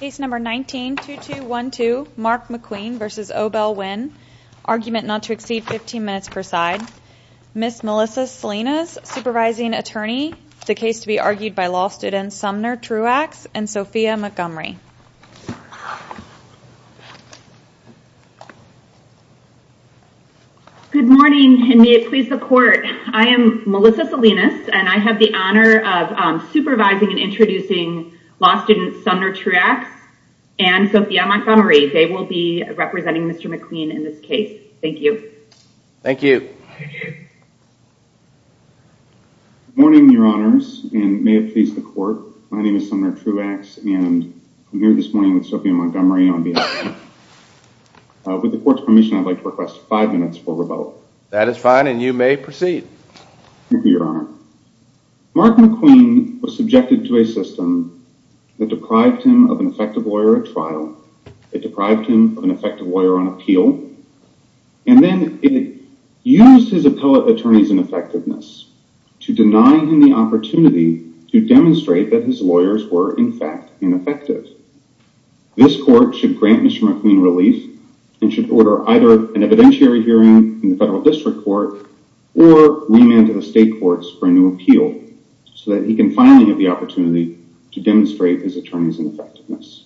Case number 19-2212 Mark McQueen v. OBell Winn Argument not to exceed 15 minutes per side Ms. Melissa Salinas, Supervising Attorney The case to be argued by law students Sumner Truax and Sophia Montgomery Good morning and may it please the court I am Melissa Salinas and I have the honor of supervising and introducing Law students Sumner Truax and Sophia Montgomery. They will be representing Mr. McQueen in this case. Thank you Thank you Morning your honors and may it please the court. My name is Sumner Truax and I'm here this morning with Sophia Montgomery on behalf of the court With the court's permission, I'd like to request five minutes for rebuttal. That is fine, and you may proceed Thank you your honor Mark McQueen was subjected to a system that deprived him of an effective lawyer at trial. It deprived him of an effective lawyer on appeal and then it used his appellate attorneys ineffectiveness to deny him the opportunity to demonstrate that his lawyers were in fact ineffective This court should grant Mr. McQueen relief and should order either an evidentiary hearing in the federal district court or Remand to the state courts for a new appeal so that he can finally have the opportunity to demonstrate his attorneys ineffectiveness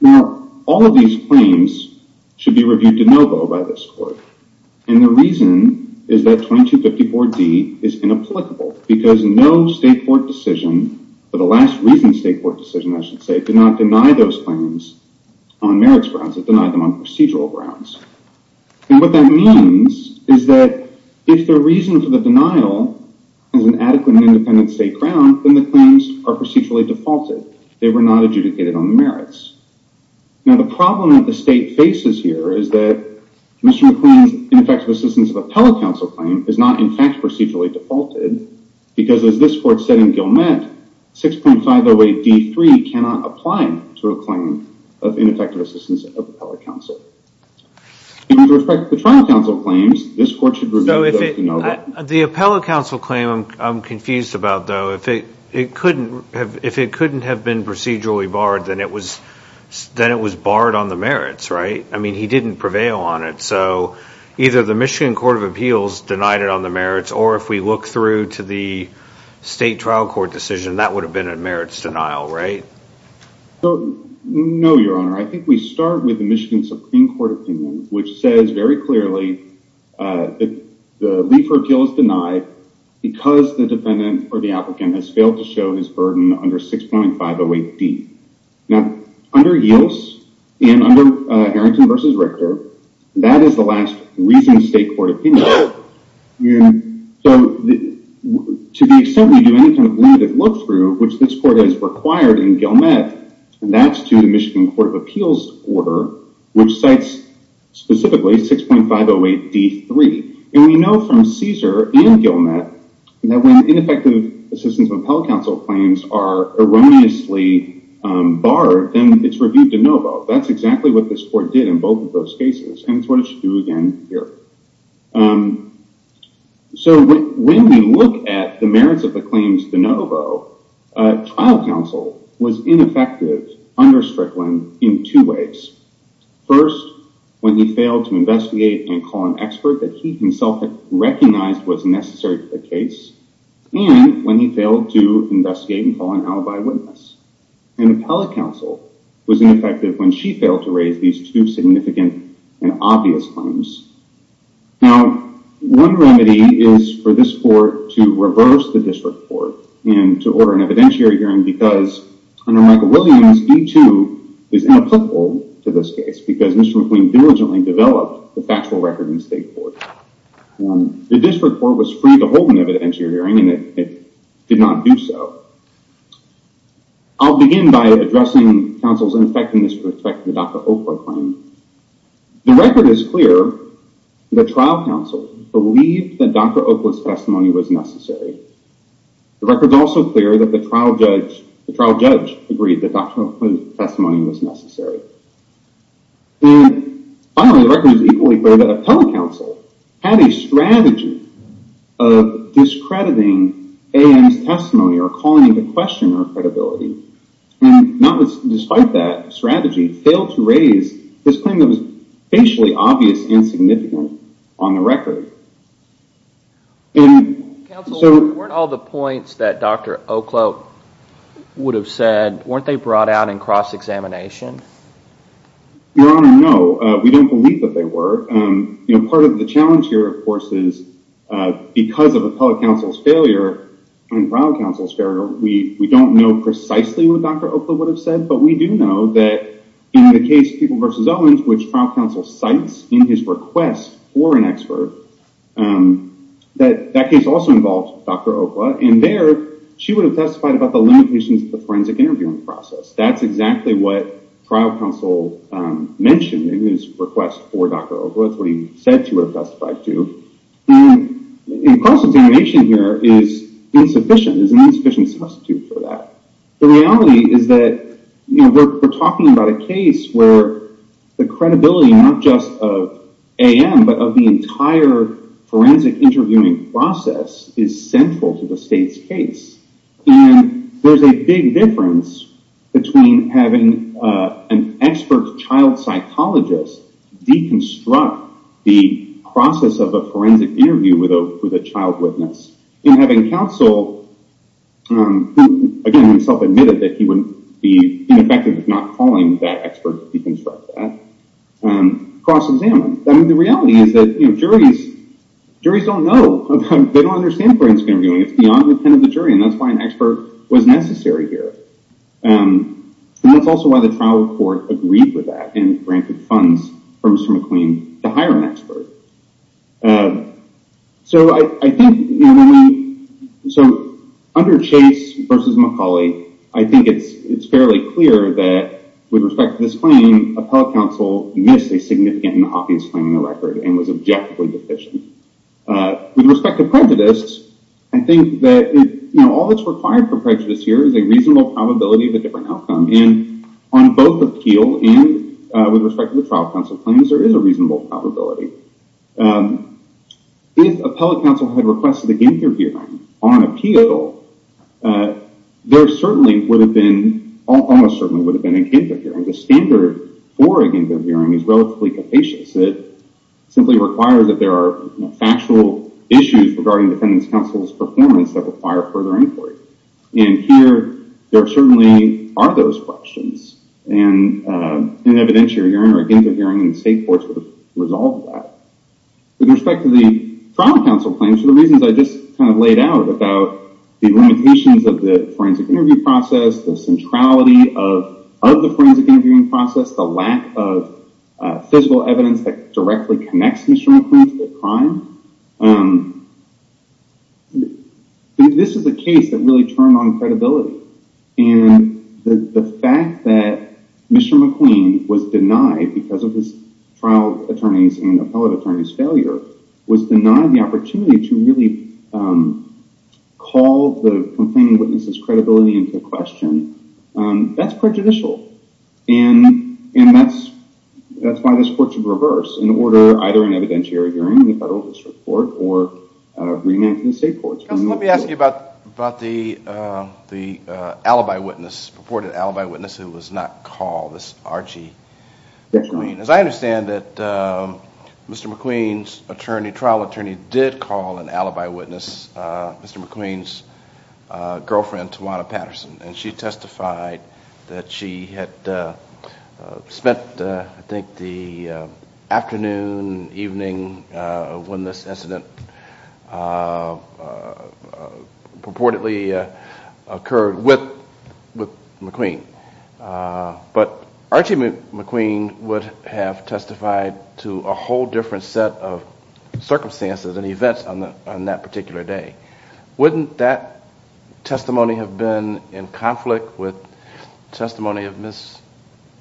Now all of these claims Should be reviewed de novo by this court And the reason is that 2254 D is inapplicable because no state court decision But the last reason state court decision I should say did not deny those claims on marriage grounds that denied them on procedural grounds And what that means is that if the reason for the denial is an adequate and independent state ground Then the claims are procedurally defaulted. They were not adjudicated on the merits Now the problem that the state faces here is that Mr. McQueen's ineffective assistance of appellate counsel claim is not in fact procedurally defaulted Because as this court said in Gilmette 6.508 D3 cannot apply to a claim of ineffective assistance of appellate counsel With respect to the trial counsel claims this court should review the appeal no the appellate counsel claim I'm confused about though if it it couldn't have if it couldn't have been procedurally barred than it was Then it was barred on the merits, right? I mean he didn't prevail on it so either the Michigan Court of Appeals denied it on the merits or if we look through to the State trial court decision that would have been a merits denial, right? So no, your honor, I think we start with the Michigan Supreme Court opinion, which says very clearly that the lead for appeals denied Because the defendant or the applicant has failed to show his burden under 6.508 D Now under Yields and under Harrington v. Richter, that is the last reason state court opinion so To the extent we do any kind of limited look-through which this court is required in Gilmette And that's to the Michigan Court of Appeals order which cites specifically 6.508 D3 and we know from Caesar and Gilmette that when ineffective assistance of appellate counsel claims are erroneously Barred then it's reviewed de novo. That's exactly what this court did in both of those cases and it's what it should do again here So When we look at the merits of the claims de novo Trial counsel was ineffective under Strickland in two ways First when he failed to investigate and call an expert that he himself had recognized was necessary to the case and when he failed to investigate and call an alibi witness An appellate counsel was ineffective when she failed to raise these two significant and obvious claims now one remedy is for this court to reverse the district court and to order an evidentiary hearing because Under Michael Williams, D2 is inapplicable to this case because Mr. McQueen diligently developed the factual record in the state court The district court was free to hold an evidentiary hearing and it did not do so I'll begin by addressing counsel's ineffectiveness with respect to the Dr. Oprah claim The record is clear the trial counsel believed that Dr. Oprah's testimony was necessary The record is also clear that the trial judge the trial judge agreed that Dr. Oprah's testimony was necessary Finally the record is equally clear that an appellate counsel had a strategy of discrediting AM's testimony or calling the questioner credibility And not despite that strategy failed to raise this claim that was basically obvious and significant on the record So weren't all the points that dr. O'Cloak would have said weren't they brought out in cross-examination Your honor. No, we don't believe that they were You know part of the challenge here, of course is Because of appellate counsel's failure and trial counsel's failure, we we don't know precisely what dr Oprah would have said but we do know that in the case people vs. Owens which trial counsel cites in his request for an expert That that case also involved. Dr. Oprah and there she would have testified about the limitations of the forensic interviewing process That's exactly what trial counsel Mentioned in his request for dr. Oprah. That's what he said to her testified to In cross-examination here is Insufficient is an insufficient substitute for that. The reality is that You know, we're talking about a case where the credibility not just of AM but of the entire Forensic interviewing process is central to the state's case There's a big difference between having an expert child psychologist Deconstruct the process of a forensic interview with a with a child witness in having counsel Again himself admitted that he wouldn't be effective if not calling that expert deconstruct that Cross-examined, I mean the reality is that you know juries Juries don't know they don't understand for instance interviewing. It's beyond the pen of the jury and that's why an expert was necessary here That's also why the trial report agreed with that and granted funds from Mr. McQueen to hire an expert So, I think So under chase versus Macaulay I think it's it's fairly clear that With respect to this claim appellate counsel missed a significant and obvious claim in the record and was objectively deficient With respect to prejudice. I think that you know All that's required for prejudice here is a reasonable probability of a different outcome in on both appeal and with respect to the trial Counsel claims there is a reasonable probability If appellate counsel had requested against your view on appeal There certainly would have been almost certainly would have been in case of hearing the standard for again Good hearing is relatively capacious it Simply requires that there are factual issues regarding defendants counsel's performance that require further inquiry and here there certainly are those questions and In an evidentiary hearing or against a hearing in the state courts would have resolved that With respect to the trial counsel claims for the reasons I just kind of laid out about the limitations of the forensic interview process the centrality of of the forensic interviewing process the lack of Physical evidence that directly connects Mr. McQueen to the crime This is a case that really turned on credibility and the fact that Mr. McQueen was denied because of his trial attorneys and appellate attorneys failure was denied the opportunity to really Call the complaining witnesses credibility into the question that's prejudicial and and that's That's why this court should reverse in order either an evidentiary hearing in the federal district court or Remand in the state courts. Let me ask you about about the The alibi witness reported alibi witness who was not called this Archie Yes, I mean as I understand that Mr. McQueen's attorney trial attorney did call an alibi witness Mr. McQueen's girlfriend Tawana Patterson and she testified that she had Spent I think the afternoon evening when this incident Purportedly occurred with with McQueen But Archie McQueen would have testified to a whole different set of Circumstances and events on the on that particular day wouldn't that testimony have been in conflict with Testimony of miss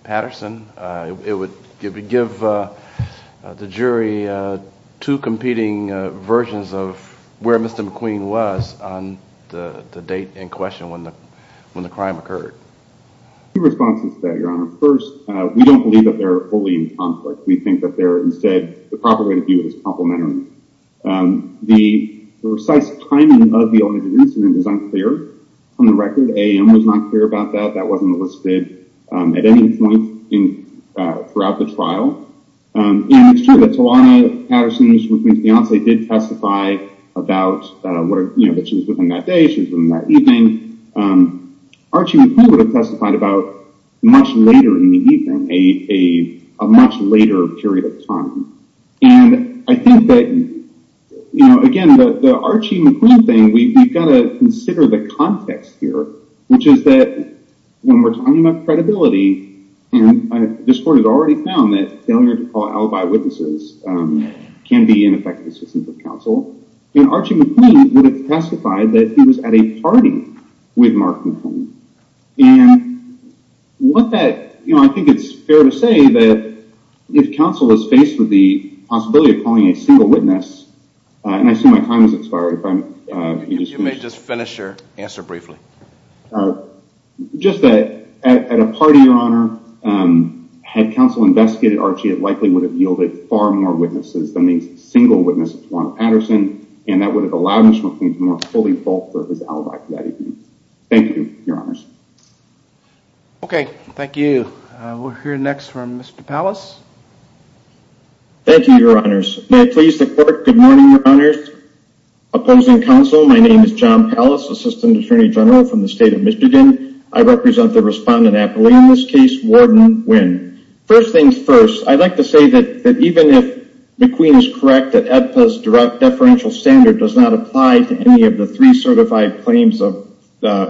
Patterson it would give you give the jury two competing Versions of where mr. McQueen was on the date in question when the when the crime occurred The response is that your honor first. We don't believe that they're fully in conflict We think that they're instead the proper way to view this compliment the Precise timing of the only reason it is unclear on the record. A.m. Was not clear about that. That wasn't listed at any point in throughout the trial It's true that Tawana Patterson's McQueen's fiance did testify about What you know that she was within that day. She was in that evening Archie McQueen would have testified about much later in the evening a much later period of time and I think that You know again the Archie McQueen thing we've got to consider the context here, which is that When we're talking about credibility and this court has already found that failure to call alibi witnesses Can be ineffective assistance of counsel and Archie McQueen would have testified that he was at a party with Mark McClain and What that you know, I think it's fair to say that If counsel was faced with the possibility of calling a single witness And I see my time is expired if I'm you may just finish your answer briefly Just that at a party your honor Had counsel investigated Archie it likely would have yielded far more witnesses than these single witness Tawana Patterson And that would have allowed Mr. McQueen to more fully fulfill his alibi for that evening. Thank you your honors Okay, thank you we're here next from mr. Palace Thank you your honors, please the court. Good morning your honors Opposing counsel. My name is John Pallas assistant attorney general from the state of Michigan I represent the respondent appellee in this case warden when first things first I'd like to say that that even if McQueen is correct that at this direct deferential standard does not apply to any of the three certified claims of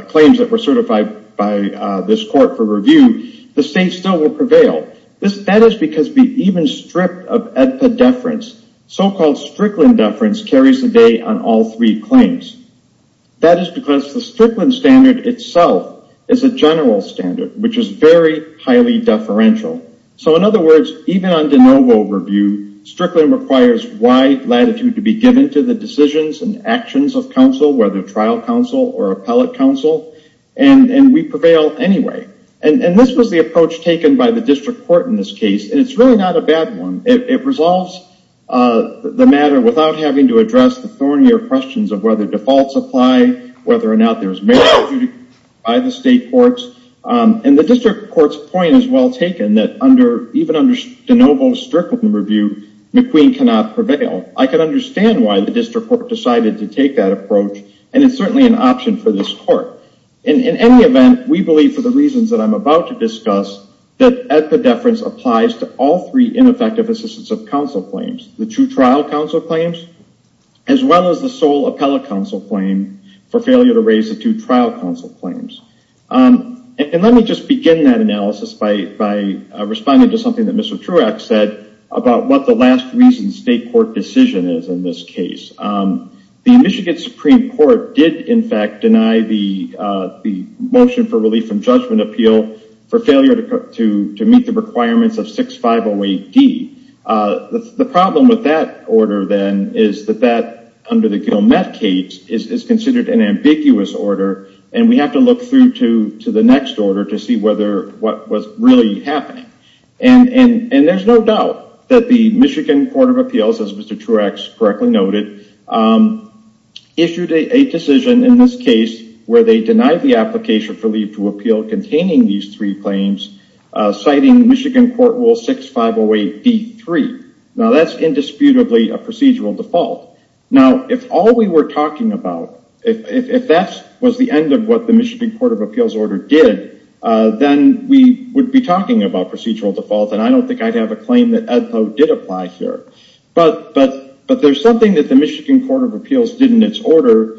Claims that were certified by this court for review the state still will prevail This that is because we even stripped of at the deference so-called Strickland deference carries the day on all three claims That is because the Strickland standard itself is a general standard, which is very highly deferential so in other words even on de novo review Strickland requires wide latitude to be given to the decisions and actions of counsel whether trial counsel or appellate counsel and And we prevail anyway, and and this was the approach taken by the district court in this case And it's really not a bad one. It resolves The matter without having to address the thornier questions of whether defaults apply whether or not there's merit by the state courts And the district court's point is well taken that under even under de novo Strickland review McQueen cannot prevail I could understand why the district court decided to take that approach and it's certainly an option for this court And in any event we believe for the reasons that I'm about to discuss That at the deference applies to all three ineffective assistance of counsel claims the true trial counsel claims As well as the sole appellate counsel claim for failure to raise the two trial counsel claims And let me just begin that analysis by by Responding to something that Mr. Truax said about what the last reason state court decision is in this case the Michigan Supreme Court did in fact deny the Motion for relief from judgment appeal for failure to meet the requirements of 6508 D The problem with that order then is that that under the Gilmette case is considered an ambiguous order and we have to look through to to the next order to see whether what was really happening and And and there's no doubt that the Michigan Court of Appeals as Mr. Truax correctly noted Issued a decision in this case where they denied the application for leave to appeal containing these three claims Citing Michigan Court Rule 6508 D 3 now that's indisputably a procedural default Now if all we were talking about if that was the end of what the Michigan Court of Appeals order did Then we would be talking about procedural default and I don't think I'd have a claim that Ed Lowe did apply here But but but there's something that the Michigan Court of Appeals did in its order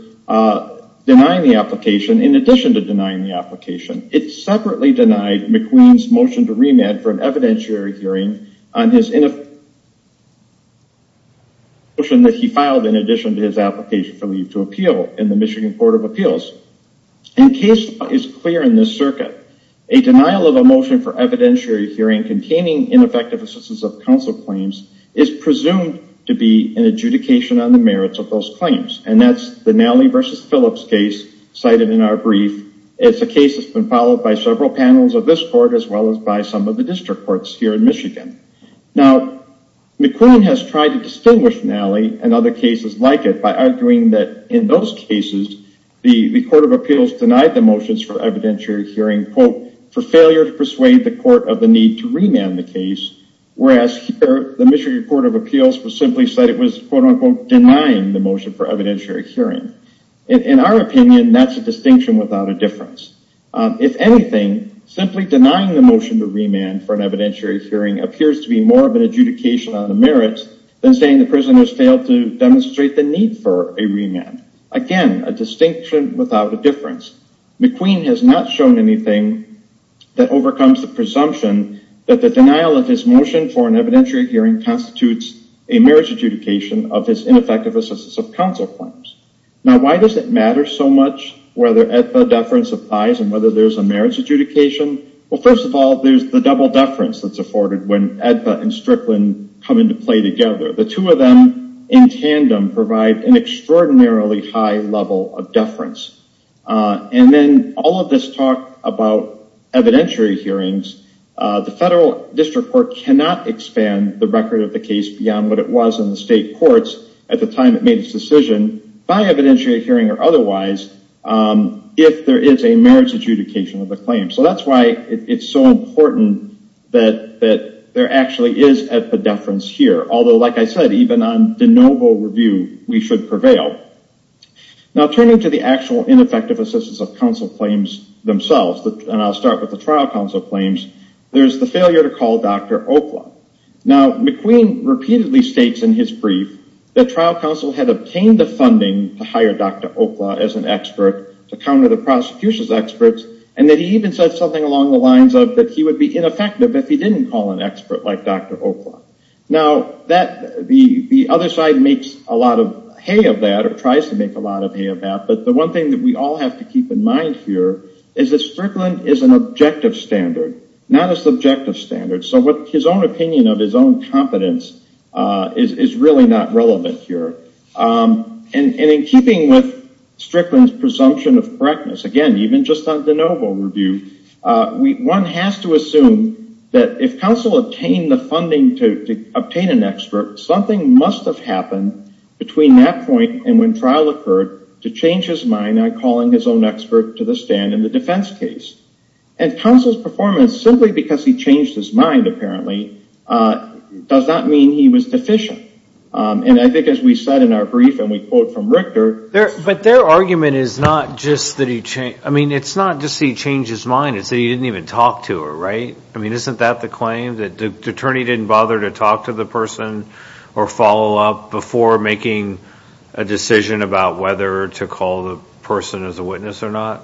Denying the application in addition to denying the application It separately denied McQueen's motion to remand for an evidentiary hearing on his in a Motion Motion that he filed in addition to his application for leave to appeal in the Michigan Court of Appeals In case is clear in this circuit a denial of a motion for evidentiary hearing Containing ineffective assistance of counsel claims is presumed to be an adjudication on the merits of those claims And that's the Nally versus Phillips case cited in our brief It's a case that's been followed by several panels of this court as well as by some of the district courts here in Michigan now McQueen has tried to distinguish Nally and other cases like it by arguing that in those cases The the Court of Appeals denied the motions for evidentiary hearing quote for failure to persuade the court of the need to remand the case Whereas the Michigan Court of Appeals was simply said it was quote-unquote denying the motion for evidentiary hearing in our opinion That's a distinction without a difference If anything Simply denying the motion to remand for an evidentiary hearing appears to be more of an adjudication on the merits Than saying the prisoners failed to demonstrate the need for a remand again a distinction without a difference McQueen has not shown anything That overcomes the presumption that the denial of his motion for an evidentiary hearing constitutes a marriage adjudication of his ineffective assistance of counsel claims Now why does it matter so much whether EDPA deference applies and whether there's a marriage adjudication Well, first of all, there's the double deference that's afforded when EDPA and Strickland come into play together the two of them in Tandem provide an extraordinarily high level of deference And then all of this talk about evidentiary hearings The federal district court cannot expand the record of the case beyond what it was in the state courts at the time It made its decision by evidentiary hearing or otherwise If there is a marriage adjudication of the claim, so that's why it's so important that That there actually is a deference here. Although like I said even on de novo review we should prevail Now turning to the actual ineffective assistance of counsel claims themselves that and I'll start with the trial counsel claims There's the failure to call. Dr. Now McQueen repeatedly states in his brief the trial counsel had obtained the funding to hire Dr Okla as an expert to counter the prosecution's experts and that he even said something along the lines of that He would be ineffective if he didn't call an expert like dr Okla now that the the other side makes a lot of hay of that or tries to make a lot of hay of that But the one thing that we all have to keep in mind here is that Strickland is an objective standard not a subjective standard So what his own opinion of his own competence is is really not relevant here And in keeping with Strickland's presumption of correctness again, even just on de novo review We one has to assume that if counsel obtained the funding to obtain an expert something must have happened between that point and when trial occurred to change his mind on calling his own expert to the stand in the defense case and Counsel's performance simply because he changed his mind apparently Does that mean he was deficient? And I think as we said in our brief and we quote from Richter there But their argument is not just that he changed. I mean, it's not just he changed his mind It's that he didn't even talk to her, right? I mean, isn't that the claim that the attorney didn't bother to talk to the person or follow up before making a Decision about whether to call the person as a witness or not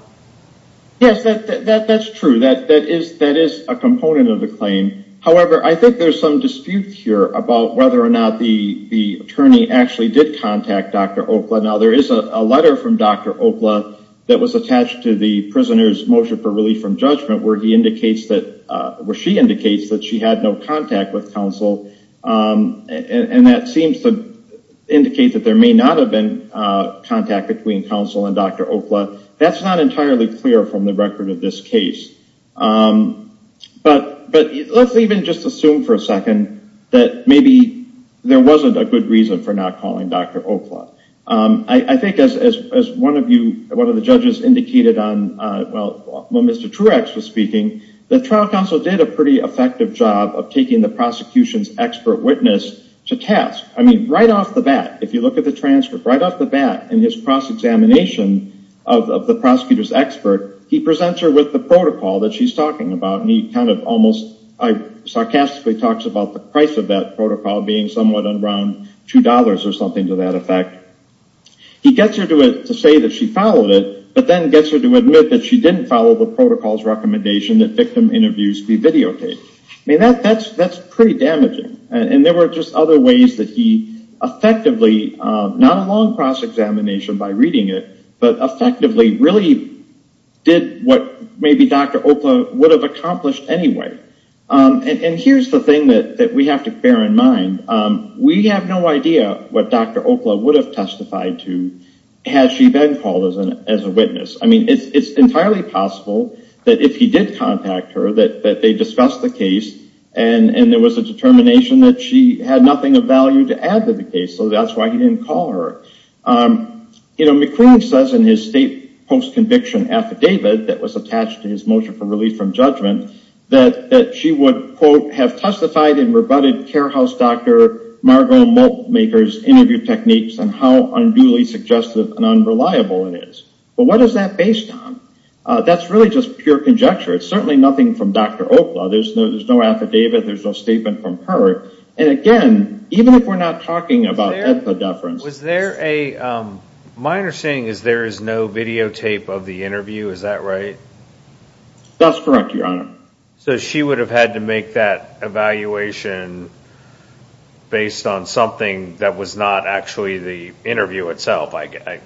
Yes, that that's true that that is that is a component of the claim However, I think there's some dispute here about whether or not the the attorney actually did contact dr Okla now there is a letter from dr Okla that was attached to the prisoners motion for relief from judgment where he indicates that Where she indicates that she had no contact with counsel and that seems to Indicate that there may not have been Contact between counsel and dr. Okla that's not entirely clear from the record of this case But but let's even just assume for a second that maybe there wasn't a good reason for not calling dr. Okla, I think as one of you one of the judges indicated on well, well, mr Truex was speaking the trial counsel did a pretty effective job of taking the prosecution's expert witness to task I mean right off the bat if you look at the transcript right off the bat in his cross-examination of The prosecutor's expert he presents her with the protocol that she's talking about and he kind of almost I Sarcastically talks about the price of that protocol being somewhat around two dollars or something to that effect He gets her to it to say that she followed it But then gets her to admit that she didn't follow the protocols recommendation that victim interviews be videotaped I mean that that's that's pretty damaging and there were just other ways that he Effectively not a long cross-examination by reading it, but effectively really Did what maybe dr. Okla would have accomplished anyway? And here's the thing that we have to bear in mind We have no idea what dr. Okla would have testified to Has she been called as an as a witness? I mean it's entirely possible that if he did contact her that that they discussed the case and And there was a determination that she had nothing of value to add to the case. So that's why he didn't call her You know McQueen says in his state post-conviction affidavit that was attached to his motion for relief from judgment That that she would quote have testified and rebutted care house. Dr. Margo milk makers interview techniques and how unduly suggestive and unreliable it is But what is that based on? That's really just pure conjecture. It's certainly nothing from dr. Okla. There's no there's no affidavit There's no statement from her and again, even if we're not talking about the deference was there a Minor saying is there is no videotape of the interview. Is that right? That's correct, Your Honor. So she would have had to make that evaluation Based on something that was not actually the interview itself. I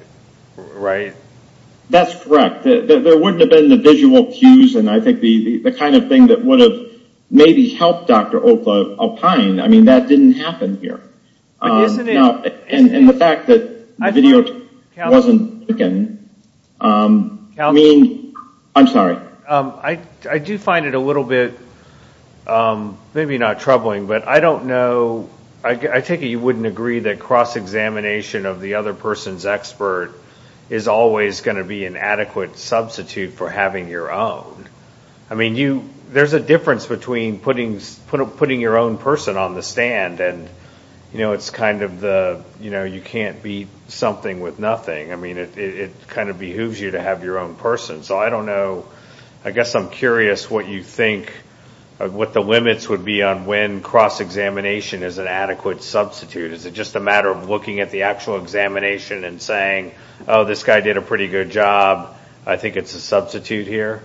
That's correct There wouldn't have been the visual cues and I think the the kind of thing that would have maybe helped. Dr. Okla opine. I mean that didn't happen here And in the fact that I video wasn't again Mean, I'm sorry. I I do find it a little bit Maybe not troubling, but I don't know I take it you wouldn't agree that cross-examination of the other person's expert is Always going to be an adequate substitute for having your own I mean you there's a difference between putting putting your own person on the stand and you know It's kind of the you know, you can't be something with nothing I mean it kind of behooves you to have your own person. So I don't know I guess I'm curious what you think What the limits would be on when cross-examination is an adequate substitute Is it just a matter of looking at the actual examination and saying oh this guy did a pretty good job I think it's a substitute here.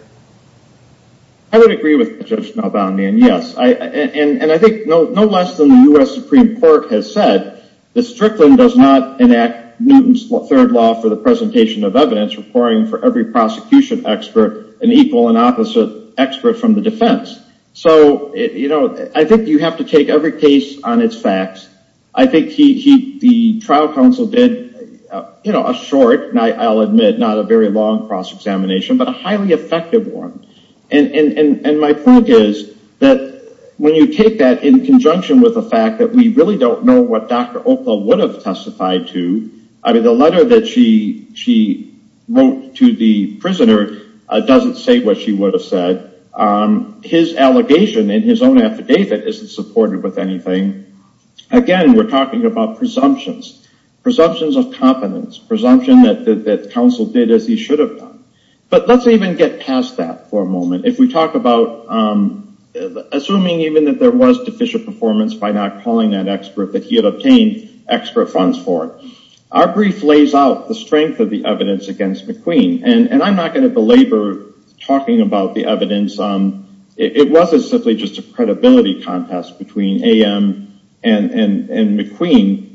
I Would agree with about me and yes I and and I think no no less than the US Supreme Court has said The Strickland does not enact Newton's third law for the presentation of evidence Requiring for every prosecution expert an equal and opposite expert from the defense So, you know, I think you have to take every case on its facts I think he the trial counsel did you know a short night? I'll admit not a very long cross-examination, but a highly effective one and And my point is that when you take that in conjunction with the fact that we really don't know what dr Opa would have testified to I mean the letter that she she Wrote to the prisoner doesn't say what she would have said His allegation in his own affidavit isn't supported with anything Again we're talking about presumptions presumptions of competence presumption that that counsel did as he should have done But let's even get past that for a moment if we talk about Assuming even that there was deficient performance by not calling that expert that he had obtained Expert funds for it our brief lays out the strength of the evidence against McQueen and and I'm not going to belabor Talking about the evidence. Um, it wasn't simply just a credibility contest between am and and McQueen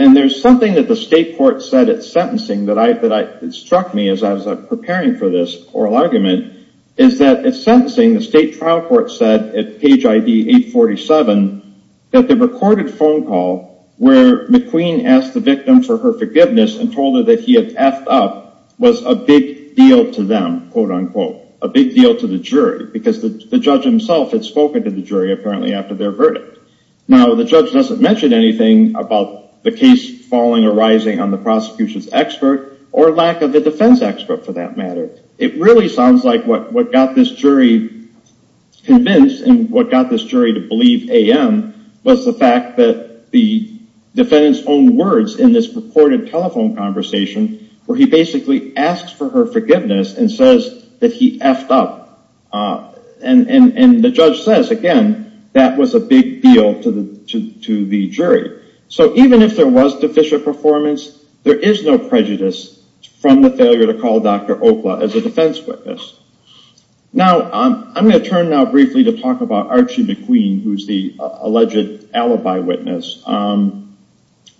and there's something that the state court said at sentencing that I that I Struck me as I was preparing for this oral argument is that it's sentencing the state trial court said at page ID 847 that the recorded phone call where McQueen asked the victim for her forgiveness and told her that he had effed up Was a big deal to them quote-unquote a big deal to the jury because the judge himself had spoken to the jury apparently after their verdict now the judge doesn't mention anything about the case falling or rising on the Prosecutions expert or lack of the defense expert for that matter. It really sounds like what what got this jury Convinced and what got this jury to believe am was the fact that the Defendants own words in this purported telephone conversation where he basically asked for her forgiveness and says that he effed up And and and the judge says again, that was a big deal to the to the jury So even if there was deficient performance, there is no prejudice from the failure to call. Dr. Okla as a defense witness Now, I'm going to turn now briefly to talk about Archie McQueen. Who's the alleged alibi witness? And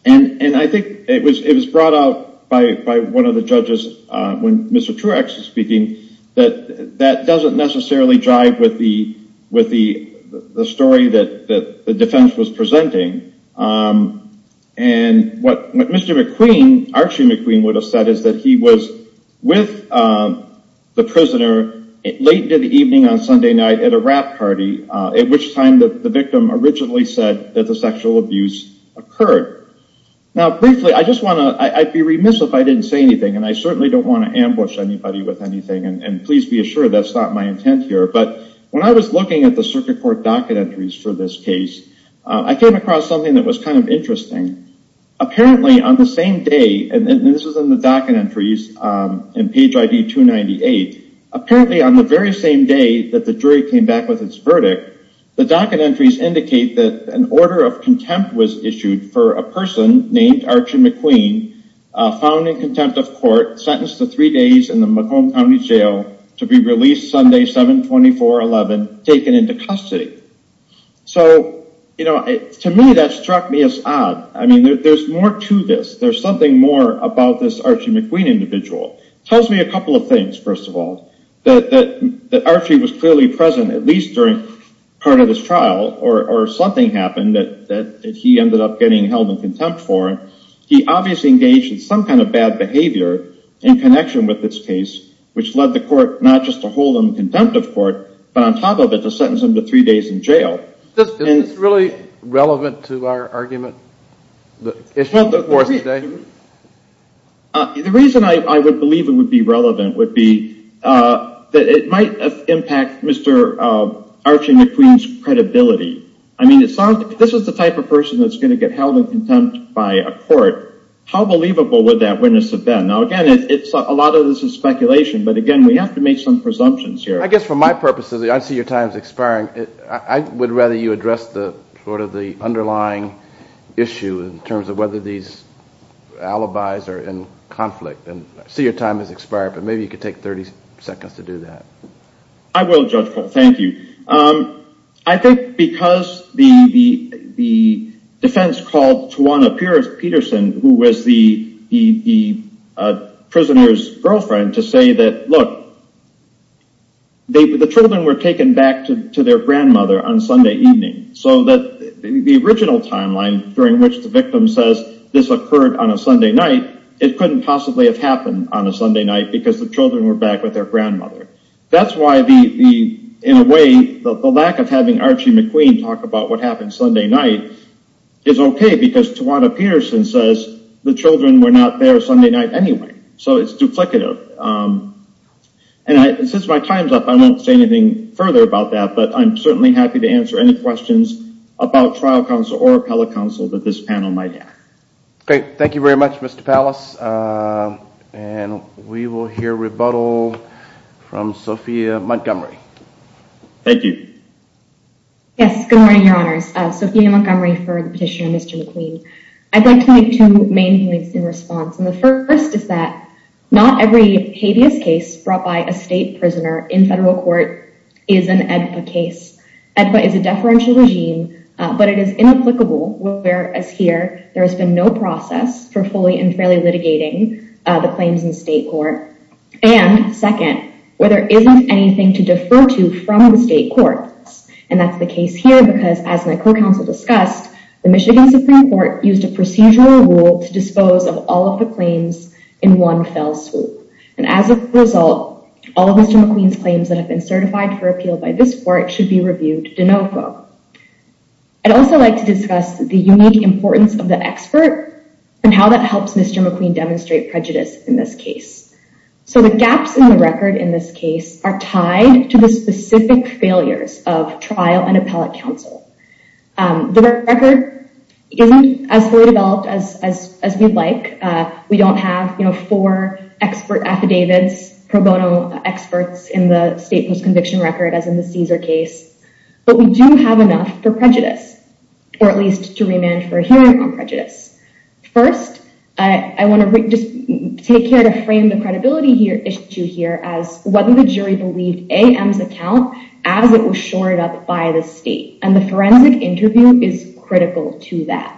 and I think it was it was brought out by by one of the judges when mr X is speaking that that doesn't necessarily drive with the with the the story that that the defense was presenting and What mr. McQueen Archie McQueen would have said is that he was with? The prisoner late to the evening on Sunday night at a wrap party at which time that the victim originally said that the sexual abuse occurred Now briefly, I just want to I'd be remiss if I didn't say anything and I certainly don't want to ambush anybody with anything And please be assured that's not my intent here But when I was looking at the circuit court docket entries for this case, I came across something that was kind of interesting Apparently on the same day and this is in the docket entries in page ID 298 Apparently on the very same day that the jury came back with its verdict The docket entries indicate that an order of contempt was issued for a person named Archie McQueen Found in contempt of court sentenced to three days in the McComb County Jail to be released Sunday 724 11 taken into custody So, you know to me that struck me as odd. I mean, there's more to this There's something more about this Archie McQueen individual tells me a couple of things That that that Archie was clearly present at least during Part of this trial or something happened that that he ended up getting held in contempt for He obviously engaged in some kind of bad behavior in connection with this case Which led the court not just to hold him contempt of court, but on top of it to sentence him to three days in jail This is really relevant to our argument the issue before today The reason I would believe it would be relevant would be That it might impact. Mr. Archie McQueen's credibility. I mean, it's not this is the type of person that's going to get held in contempt by a court How believable would that witness have been now again? It's a lot of this is speculation But again, we have to make some presumptions here. I guess for my purposes. I see your times expiring I would rather you address the sort of the underlying issue in terms of whether these Alibis are in conflict and see your time has expired, but maybe you could take 30 seconds to do that. I will judgeful. Thank you I think because the the the defense called to one appears Peterson who was the Prisoner's girlfriend to say that look They were the children were taken back to their grandmother on Sunday evening So that the original timeline during which the victim says this occurred on a Sunday night It couldn't possibly have happened on a Sunday night because the children were back with their grandmother That's why the in a way the lack of having Archie McQueen talk about what happened Sunday night Is okay, because Tawana Peterson says the children were not there Sunday night anyway, so it's duplicative and I since my time's up. I won't say anything further about that But I'm certainly happy to answer any questions about trial counsel or appellate counsel that this panel might have. Okay. Thank you very much. Mr Pallas and We will hear rebuttal from Sophia Montgomery Thank you Yes, good morning, Your Honors. Sophia Montgomery for the petitioner Mr. McQueen. I'd like to make two main points in response And the first is that not every habeas case brought by a state prisoner in federal court is an AEDPA case. AEDPA is a deferential regime But it is inapplicable whereas here there has been no process for fully and fairly litigating the claims in state court and second where there isn't anything to defer to from the state courts and that's the case here because as my co-counsel discussed The Michigan Supreme Court used a procedural rule to dispose of all of the claims in one fell swoop And as a result all of Mr. McQueen's claims that have been certified for appeal by this court should be reviewed de novo I'd also like to discuss the unique importance of the expert and how that helps Mr. McQueen demonstrate prejudice in this case So the gaps in the record in this case are tied to the specific failures of trial and appellate counsel the record Isn't as fully developed as we'd like. We don't have you know four expert affidavits pro bono experts in the state post conviction record as in the Caesar case But we do have enough for prejudice or at least to remand for hearing on prejudice First I want to just take care to frame the credibility issue here as whether the jury believed AM's account as it was shored up by the state and the forensic interview is critical to that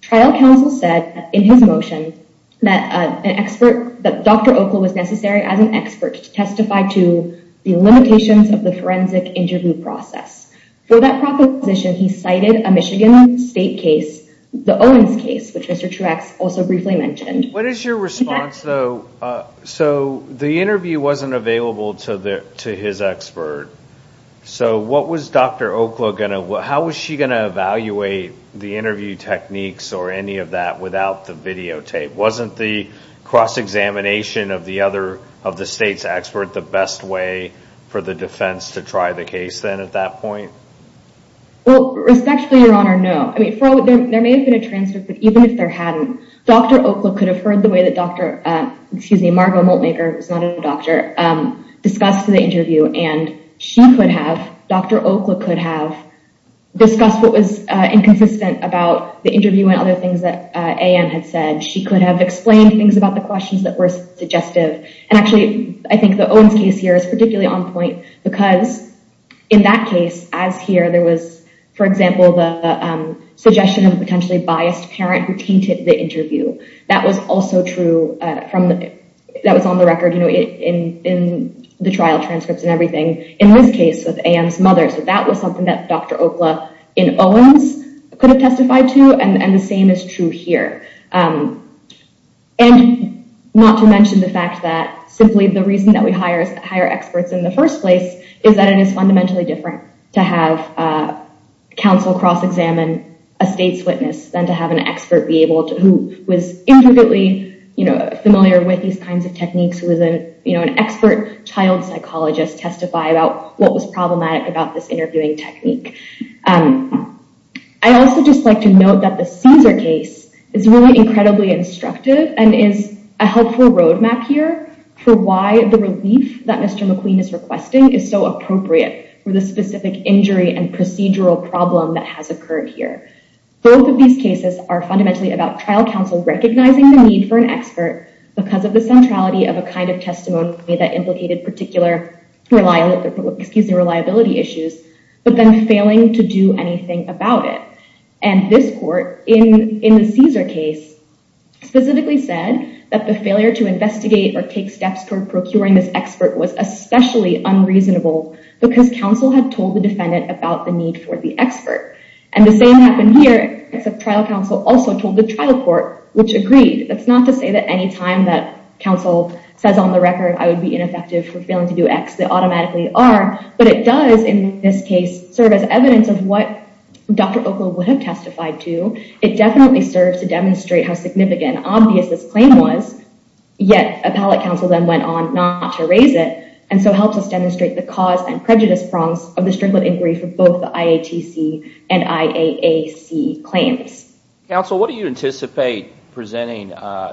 Trial counsel said in his motion that an expert that dr Okla was necessary as an expert to testify to the limitations of the forensic interview process for that proposition He cited a Michigan state case the Owens case, which mr. Truex also briefly mentioned. What is your response though? So the interview wasn't available to the to his expert So, what was dr Okla gonna what how was she going to evaluate the interview techniques or any of that without the videotape wasn't the Cross-examination of the other of the state's expert the best way for the defense to try the case then at that point Well respectfully your honor. No, I mean there may have been a transcript, but even if there hadn't dr Okla could have heard the way that dr. Excuse me, Margo Maltmaker was not a doctor Discussed to the interview and she would have dr. Okla could have Discussed what was inconsistent about the interview and other things that am had said She could have explained things about the questions that were suggestive and actually I think the Owens case here is particularly on point because in that case as here there was for example the Suggestion of potentially biased parent who tainted the interview that was also true from that was on the record, you know in in The trial transcripts and everything in this case with Anne's mother. So that was something that dr Okla in Owens could have testified to and and the same is true here and Not to mention the fact that simply the reason that we hire higher experts in the first place is that it is fundamentally different to have Counsel cross-examine a state's witness than to have an expert be able to who was intricately You know familiar with these kinds of techniques who isn't, you know An expert child psychologist testify about what was problematic about this interviewing technique. I Also just like to note that the Caesar case is really incredibly Instructive and is a helpful roadmap here for why the relief that mr McQueen is requesting is so appropriate for the specific injury and procedural problem that has occurred here Both of these cases are fundamentally about trial counsel recognizing the need for an expert Because of the centrality of a kind of testimony that implicated particular Reliable excuse the reliability issues, but then failing to do anything about it and this court in in the Caesar case Specifically said that the failure to investigate or take steps toward procuring this expert was especially unreasonable Because counsel had told the defendant about the need for the expert and the same happened here It's a trial counsel also told the trial court which agreed That's not to say that any time that counsel says on the record I would be ineffective for failing to do X that automatically are but it does in this case serve as evidence of what? Dr. Oakley would have testified to it definitely serves to demonstrate how significant obvious this claim was Yet a pallet counsel then went on not to raise it and so helps us demonstrate the cause and prejudice Prongs of the strickland inquiry for both the IATC and IAAC claims Counsel, what do you anticipate? Presenting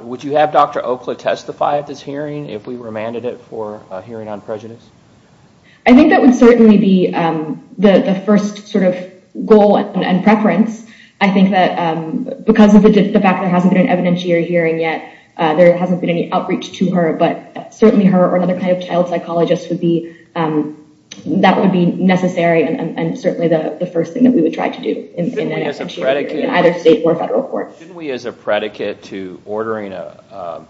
would you have dr. Oakley testify at this hearing if we remanded it for hearing on prejudice? I think that would certainly be The the first sort of goal and preference I think that Because of the fact there hasn't been an evidentiary hearing yet there hasn't been any outreach to her but certainly her or another kind of child psychologist would be that would be necessary and certainly the first thing that we would try to do in Either state or federal court. We as a predicate to ordering a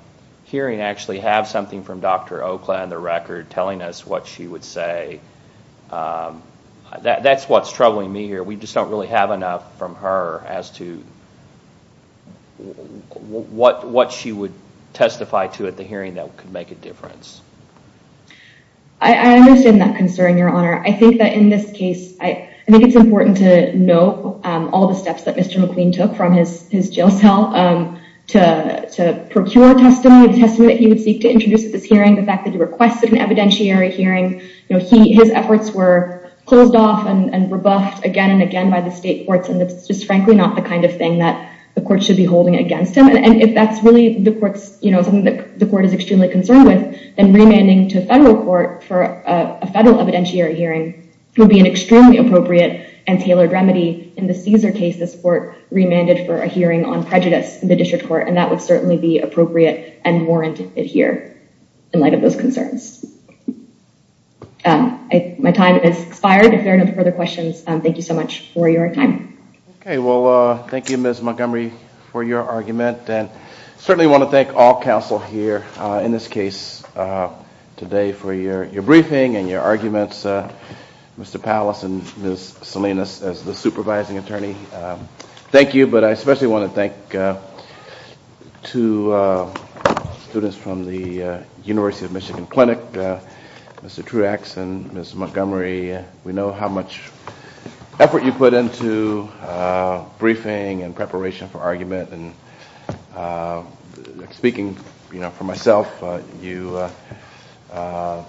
Hearing actually have something from dr. Oakland the record telling us what she would say That's what's troubling me here, we just don't really have enough from her as to What what she would testify to at the hearing that could make a difference I Understand that concern your honor I think that in this case, I think it's important to know all the steps that mr McQueen took from his his jail cell To to procure a testimony a testament He would seek to introduce at this hearing the fact that he requested an evidentiary hearing, you know He his efforts were closed off and rebuffed again and again by the state courts And it's just frankly not the kind of thing that the court should be holding against him And if that's really the courts, you know Something that the court is extremely concerned with and remaining to federal court for a federal evidentiary hearing Will be an extremely appropriate and tailored remedy in the Caesar case this court Remanded for a hearing on prejudice in the district court and that would certainly be appropriate and warrant it here in light of those concerns My time is expired if there are no further questions, thank you so much for your time. Okay. Well, thank you Miss Montgomery for your argument and certainly want to thank all counsel here in this case Today for your your briefing and your arguments Mr. Palace and miss Salinas as the supervising attorney Thank you, but I especially want to thank to students from the University of Michigan Clinic Mr. Truex and Miss Montgomery, we know how much effort you put into briefing and preparation for argument and Speaking, you know for myself you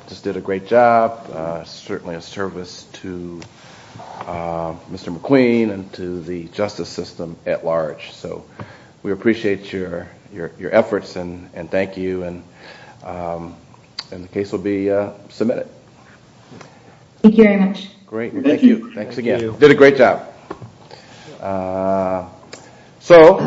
Just did a great job. Certainly a service to Mr. McQueen and to the justice system at large. So we appreciate your your efforts and and thank you and And the case will be submitted Thank you very much. Great. Thank you. Thanks again. You did a great job So